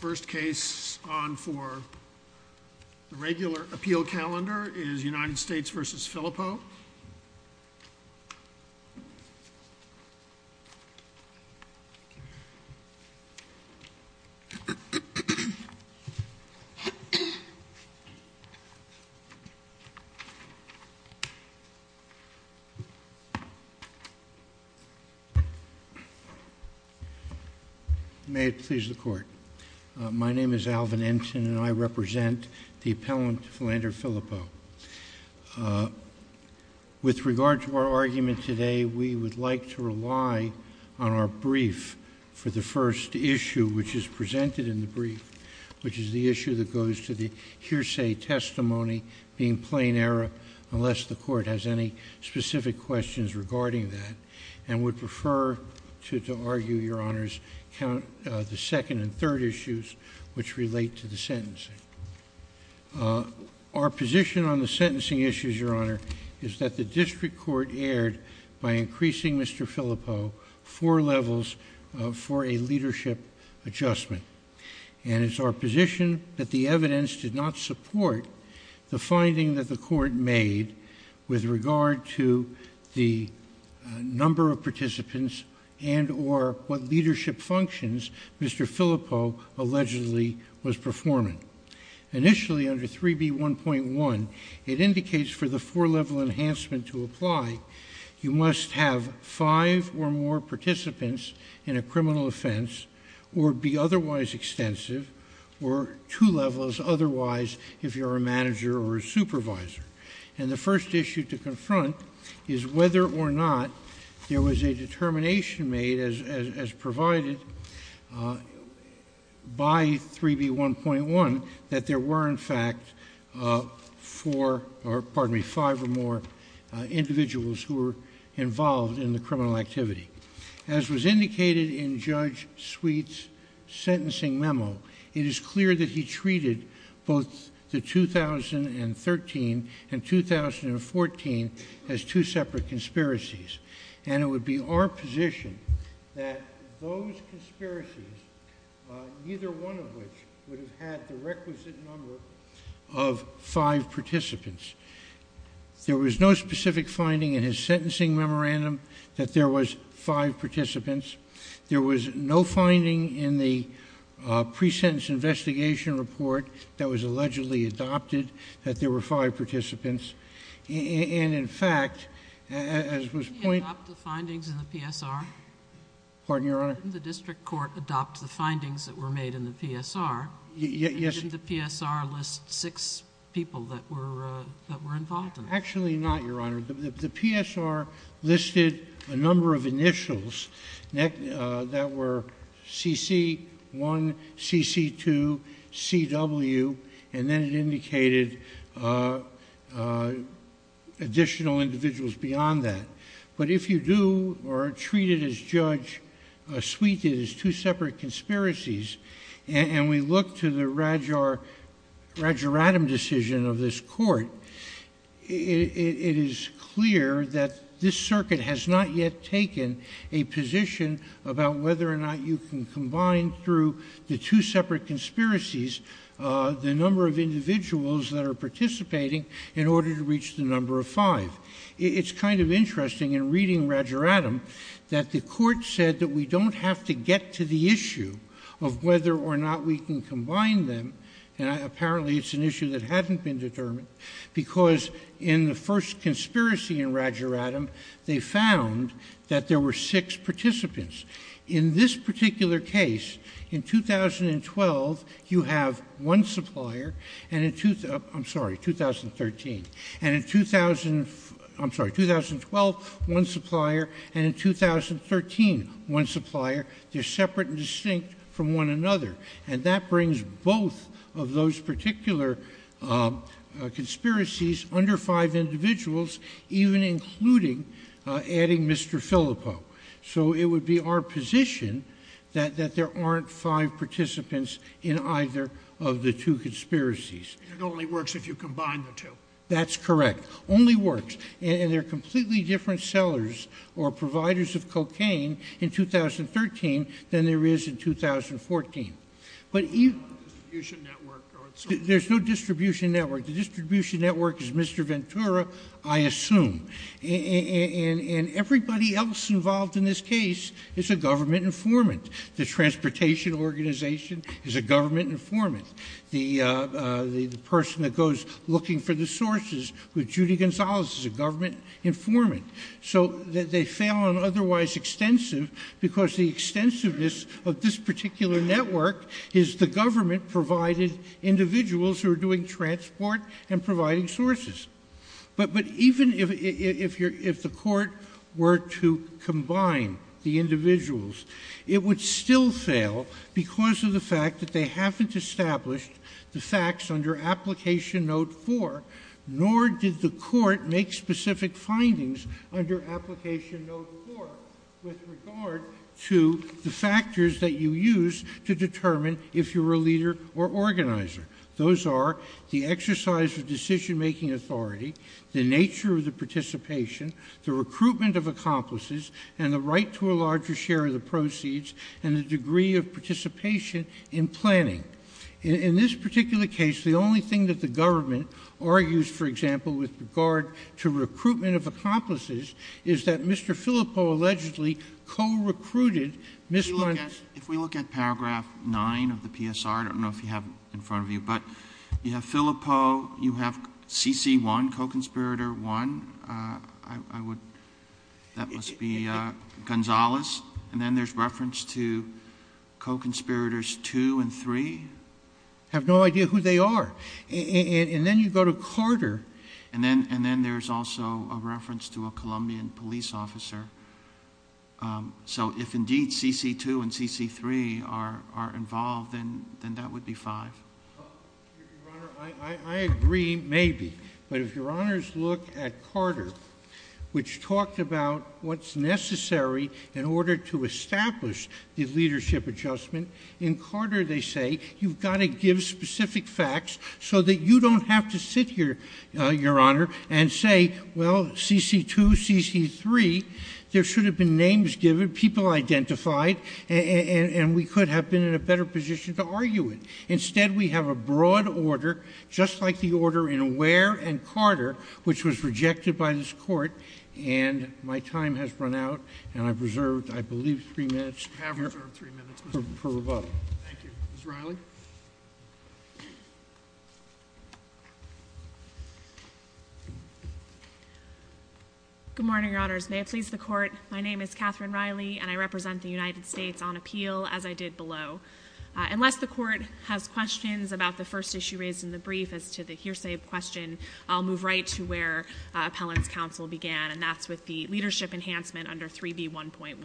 First case on for the regular appeal calendar is United States v. Filippo. May it please the court. My name is Alvin Enson and I represent the appellant Philander Filippo. With regard to our argument today, we would like to rely on our brief for the first issue which is presented in the brief, which is the issue that goes to the hearsay testimony being plain error unless the court has any specific questions regarding that and would prefer to argue, your honors, the second and third issues which relate to the sentencing. Our position on the sentencing issues, your honor, is that the district court erred by increasing Mr. Filippo four levels for a leadership adjustment and it's our position that the evidence did not support the finding that the court made with regard to the number of initially under 3B1.1, it indicates for the four level enhancement to apply, you must have five or more participants in a criminal offense or be otherwise extensive or two levels otherwise if you're a manager or a supervisor. And the first issue to confront is whether or not there was a determination made as provided by 3B1.1 that there were in fact four, pardon me, five or more individuals who were involved in the criminal activity. As was indicated in Judge Sweet's sentencing memo, it is clear that he treated both the 2013 and 2014 as two separate conspiracies and it would be our position that those two conspiracies, neither one of which would have had the requisite number of five participants. There was no specific finding in his sentencing memorandum that there was five participants. There was no finding in the pre-sentence investigation report that was allegedly adopted that there were five participants. And in fact, as was pointed- The district court adopts the findings that were made in the PSR. Yes. Didn't the PSR list six people that were involved in it? Actually not, Your Honor. The PSR listed a number of initials that were CC1, CC2, CW, and then it indicated additional individuals beyond that. But if you do or treat it as Judge Sweet did as two separate conspiracies and we look to the Radjaradam decision of this court, it is clear that this circuit has not yet taken a position about whether or not you can combine through the two separate conspiracies the number of individuals that are participating in order to reach the number of five. It's kind of interesting in reading Radjaradam that the court said that we don't have to get to the issue of whether or not we can combine them and apparently it's an issue that hasn't been determined because in the first conspiracy in Radjaradam, they found that there were six participants. In this particular case, in 2012, you have one supplier and in- I'm sorry, 2013. And in- I'm sorry, 2012, one supplier and in 2013, one supplier. They're separate and distinct from one another and that brings both of those particular conspiracies under five individuals even including adding Mr. Filippo. So it would be our position that there aren't five participants in either of the two conspiracies. And it only works if you combine the two. That's correct. Only works. And they're completely different sellers or providers of cocaine in 2013 than there is in 2014. But even- There's no distribution network. There's no distribution network. The distribution network is Mr. Ventura, I assume. And everybody else involved in this case is a government informant. The transportation organization is a government informant. The person that goes looking for the sources with Judy Gonzalez is a government informant. So they fail on otherwise extensive because the extensiveness of this particular network is the government provided individuals who are doing transport and providing sources. But even if the court were to combine the individuals, it would still fail because of the fact that they haven't established the facts under Application Note 4, nor did the court make specific findings under Application Note 4 with regard to the factors that you use to determine if you're a leader or organizer. Those are the exercise of decision-making authority, the nature of the participation, the recruitment of accomplices, and the right to a larger share of the proceeds and the degree of participation in planning. In this particular case, the only thing that the government argues, for example, with regard to recruitment of accomplices is that Mr. Filippo allegedly co-recruited Ms. Montes. If we look at paragraph 9 of the PSR, I don't know if you have it in front of you, but you have Filippo, you have CC1, co-conspirator 1, I would ‑‑ that must be Gonzales, and then there's reference to co-conspirators 2 and 3. I have no idea who they are. And then you go to Carter. And then there's also a reference to a Colombian police officer. So if indeed CC2 and CC3 are involved, then that would be 5. Your Honor, I agree, maybe. But if Your Honors look at Carter, which talked about what's necessary in order to establish the leadership adjustment, in Carter they say you've got to give specific facts so that you don't have to sit here, Your Honor, and say, well, CC2, CC3, there should have been names given, people identified, and we could have been in a better position to argue it. Instead, we have a broad order, just like the order in Ware and Carter, which was rejected by this Court, and my time has run out, and I've reserved, I believe, three minutes for rebuttal. Thank you. Ms. Riley? Good morning, Your Honors. May it please the Court, my name is Catherine Riley, and I represent the United States on appeal, as I did below. Unless the Court has questions about the first issue raised in the brief as to the hearsay question, I'll move right to where appellant's counsel began, and that's with the leadership enhancement under 3B1.1.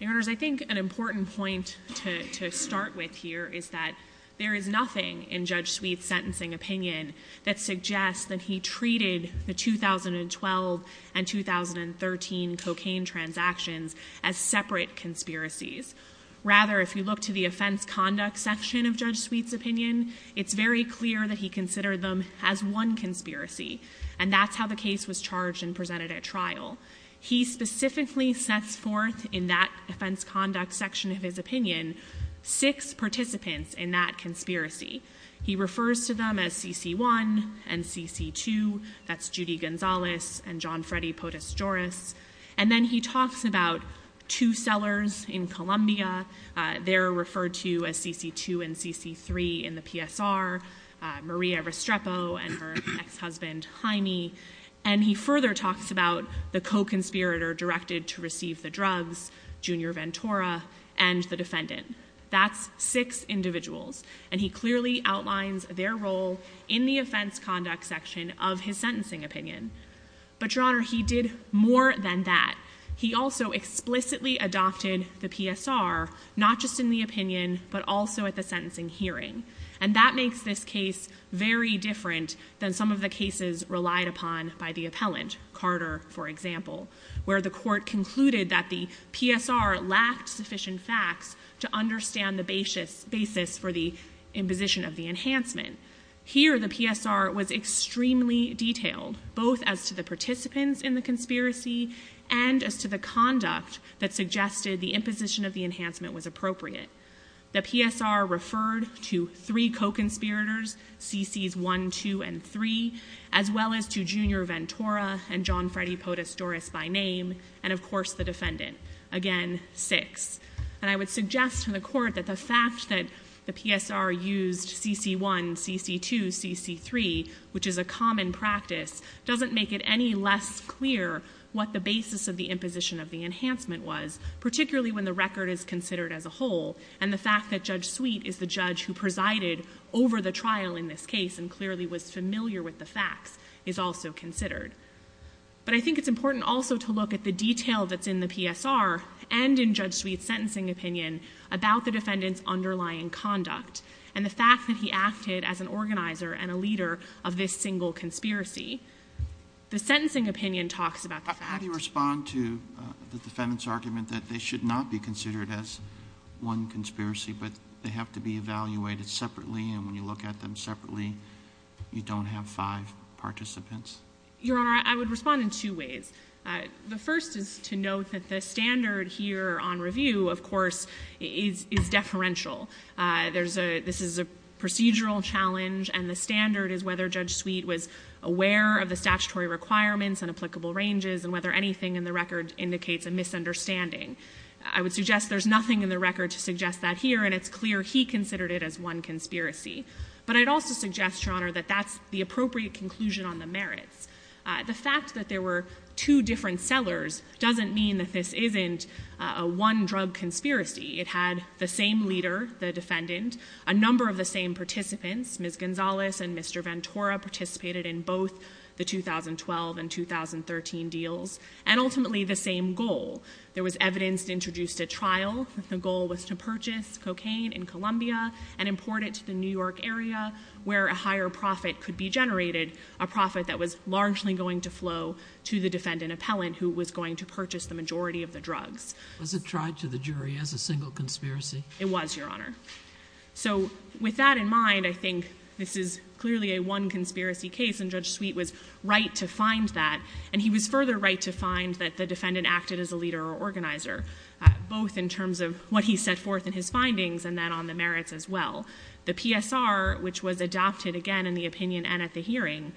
Your Honors, I think an important point to start with here is that there is nothing in Judge Sweet's sentencing opinion that suggests that he treated the 2012 and 2013 cocaine transactions as separate conspiracies. Rather, if you look to the offense conduct section of Judge Sweet's opinion, it's very clear that he considered them as one conspiracy, and that's how the case was charged and presented at trial. He specifically sets forth in that offense conduct section of his opinion six participants in that conspiracy. He refers to them as CC1 and CC2, that's Judy Gonzalez and John Freddy Potus Joris, and then he talks about two sellers in Colombia. They're referred to as CC2 and CC3 in the PSR, Maria Restrepo and her ex-husband Jaime, and he further talks about the co-conspirator directed to receive the drugs, Junior Ventura, and the defendant. That's six individuals, and he clearly outlines their role in the offense conduct section of his sentencing opinion. But, Your Honor, he did more than that. He also explicitly adopted the PSR not just in the opinion but also at the sentencing hearing, and that makes this case very different than some of the cases relied upon by the appellant, Carter, for example, where the court concluded that the PSR lacked sufficient facts to understand the basis for the imposition of the enhancement. Here, the PSR was extremely detailed, both as to the participants in the conspiracy and as to the conduct that suggested the imposition of the enhancement was appropriate. The PSR referred to three co-conspirators, CCs 1, 2, and 3, as well as to Junior Ventura and John Freddy Potus Joris by name, and, of course, the defendant, again, six. And I would suggest to the court that the fact that the PSR used CC1, CC2, CC3, which is a common practice, doesn't make it any less clear what the basis of the imposition of the enhancement was, particularly when the record is considered as a whole, and the fact that Judge Sweet is the judge who presided over the trial in this case and clearly was familiar with the facts is also considered. But I think it's important also to look at the detail that's in the PSR and in Judge Sweet's sentencing opinion about the defendant's underlying conduct and the fact that he acted as an organizer and a leader of this single conspiracy. The sentencing opinion talks about the fact that How do you respond to the defendant's argument that they should not be considered as one conspiracy, but they have to be evaluated separately, and when you look at them separately, you don't have five participants? Your Honor, I would respond in two ways. The first is to note that the standard here on review, of course, is deferential. This is a procedural challenge, and the standard is whether Judge Sweet was aware of the statutory requirements and applicable ranges and whether anything in the record indicates a misunderstanding. I would suggest there's nothing in the record to suggest that here, and it's clear he considered it as one conspiracy. But I'd also suggest, Your Honor, that that's the appropriate conclusion on the merits. The fact that there were two different sellers doesn't mean that this isn't a one-drug conspiracy. It had the same leader, the defendant, a number of the same participants. Ms. Gonzalez and Mr. Ventura participated in both the 2012 and 2013 deals and ultimately the same goal. There was evidence introduced at trial. The goal was to purchase cocaine in Colombia and import it to the New York area where a higher profit could be generated, a profit that was largely going to flow to the defendant appellant who was going to purchase the majority of the drugs. Was it tried to the jury as a single conspiracy? It was, Your Honor. So with that in mind, I think this is clearly a one-conspiracy case, and Judge Sweet was right to find that, and he was further right to find that the defendant acted as a leader or organizer, both in terms of what he set forth in his findings and then on the merits as well. The PSR, which was adopted, again, in the opinion and at the hearing,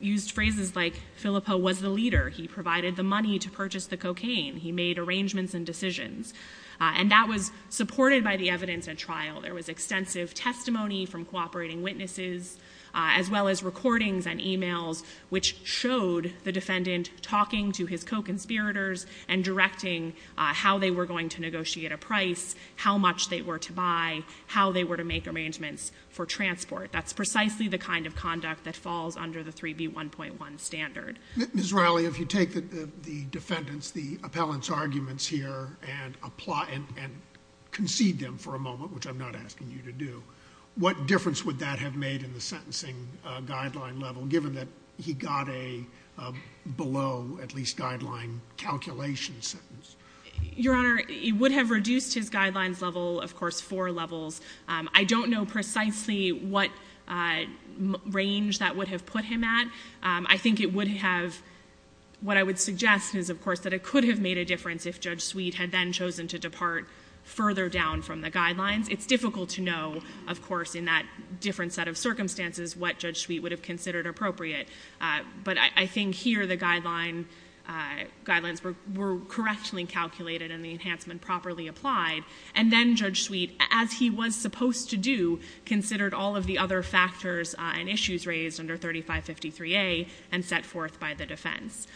used phrases like Filippo was the leader. He provided the money to purchase the cocaine. He made arrangements and decisions. And that was supported by the evidence at trial. There was extensive testimony from cooperating witnesses as well as recordings and e-mails which showed the defendant talking to his co-conspirators and directing how they were going to negotiate a price, how much they were to buy, how they were to make arrangements for transport. That's precisely the kind of conduct that falls under the 3B1.1 standard. Ms. Riley, if you take the defendant's, the appellant's arguments here and concede them for a moment, which I'm not asking you to do, what difference would that have made in the sentencing guideline level, given that he got a below-at-least guideline calculation sentence? Your Honor, it would have reduced his guidelines level, of course, four levels. I don't know precisely what range that would have put him at. I think it would have, what I would suggest is, of course, that it could have made a difference if Judge Sweet had then chosen to depart further down from the guidelines. It's difficult to know, of course, in that different set of circumstances what Judge Sweet would have considered appropriate. But I think here the guidelines were correctly calculated and the enhancement properly applied. And then Judge Sweet, as he was supposed to do, considered all of the other factors and issues raised under 3553A and set forth by the defense.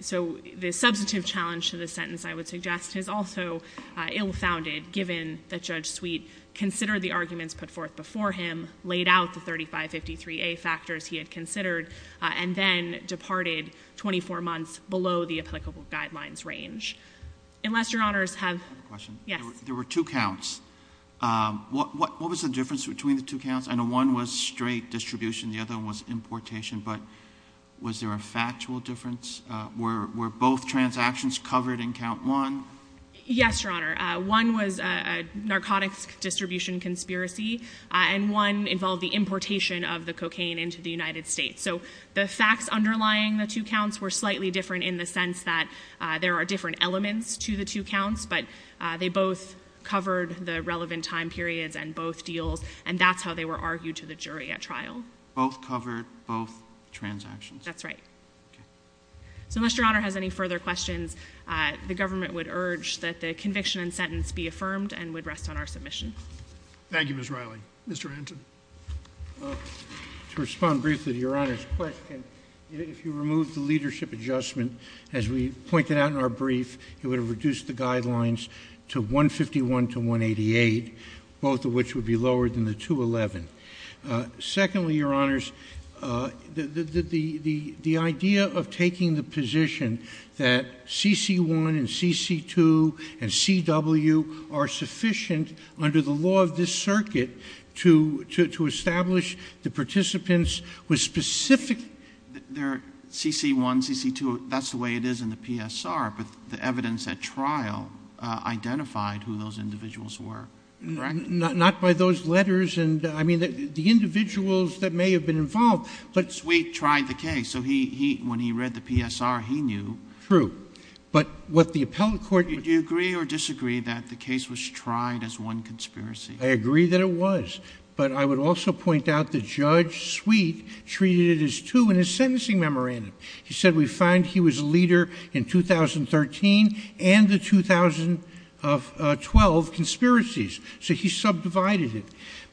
So the substantive challenge to the sentence, I would suggest, is also ill-founded, given that Judge Sweet considered the arguments put forth before him, laid out the 3553A factors he had considered, and then departed 24 months below the applicable guidelines range. Unless, Your Honors, have... I have a question. Yes. There were two counts. What was the difference between the two counts? I know one was straight distribution, the other one was importation. But was there a factual difference? Were both transactions covered in count one? Yes, Your Honor. One was a narcotics distribution conspiracy and one involved the importation of the cocaine into the United States. So the facts underlying the two counts were slightly different in the sense that there are different elements to the two counts, but they both covered the relevant time periods and both deals, and that's how they were argued to the jury at trial. Both covered both transactions. That's right. Okay. So unless Your Honor has any further questions, the government would urge that the conviction and sentence be affirmed and would rest on our submission. Thank you, Ms. Riley. Mr. Anton. To respond briefly to Your Honor's question, if you remove the leadership adjustment, as we pointed out in our brief, it would have reduced the guidelines to 151 to 188, both of which would be lower than the 211. Secondly, Your Honors, the idea of taking the position that CC1 and CC2 and CW are sufficient under the law of this circuit to establish the participants with specific ---- CC1, CC2, that's the way it is in the PSR, but the evidence at trial identified who those individuals were, correct? Not by those letters. I mean, the individuals that may have been involved. Sweet tried the case, so when he read the PSR, he knew. True. But what the appellate court ---- Do you agree or disagree that the case was tried as one conspiracy? I agree that it was. But I would also point out that Judge Sweet treated it as two in his sentencing memorandum. He said we find he was a leader in 2013 and the 2012 conspiracies. So he subdivided it.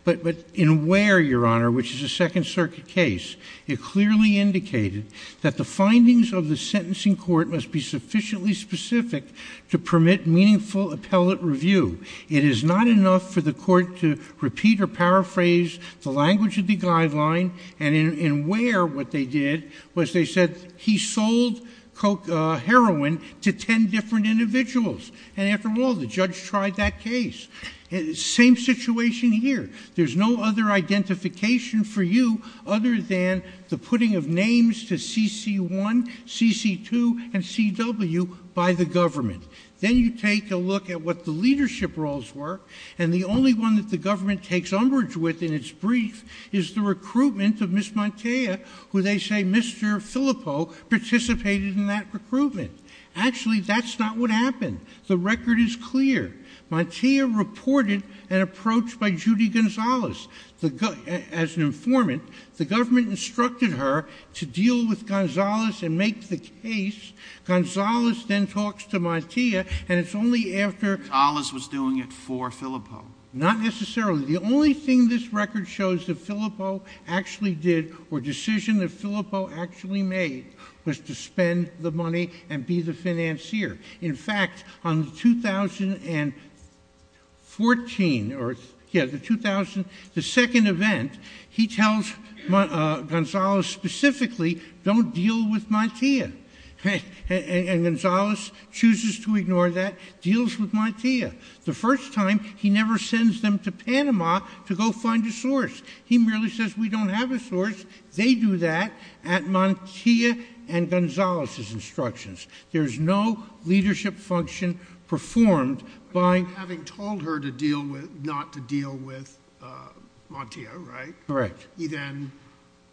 But in Ware, Your Honor, which is a Second Circuit case, it clearly indicated that the findings of the sentencing court must be sufficiently specific to permit meaningful appellate review. It is not enough for the court to repeat or paraphrase the language of the guideline. And in Ware, what they did was they said he sold heroin to ten different individuals. And after all, the judge tried that case. Same situation here. There's no other identification for you other than the putting of names to CC1, CC2, and CW by the government. Then you take a look at what the leadership roles were, and the only one that the government takes umbrage with in its brief is the recruitment of Ms. Montea, who they say Mr. Filippo participated in that recruitment. Actually, that's not what happened. The record is clear. Montea reported an approach by Judy Gonzales as an informant. The government instructed her to deal with Gonzales and make the case. Gonzales then talks to Montea, and it's only after — Gonzales was doing it for Filippo. Not necessarily. The only thing this record shows that Filippo actually did or decision that Filippo actually made was to spend the money and be the financier. In fact, on the 2014 or — yeah, the 2000 — the second event, he tells Gonzales specifically, don't deal with Montea. And Gonzales chooses to ignore that, deals with Montea. The first time, he never sends them to Panama to go find a source. He merely says, we don't have a source. They do that at Montea and Gonzales' instructions. There's no leadership function performed by — Having told her not to deal with Montea, right? Correct. He then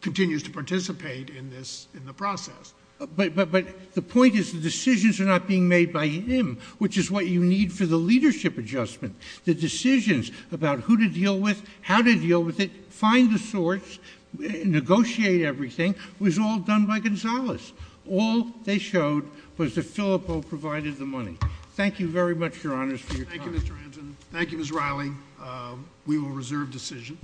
continues to participate in the process. But the point is the decisions are not being made by him, which is what you need for the leadership adjustment. The decisions about who to deal with, how to deal with it, find the source, negotiate everything, was all done by Gonzales. All they showed was that Filippo provided the money. Thank you very much, Your Honors, for your time. Thank you, Mr. Anton. Thank you, Ms. Riley. We will reserve decision.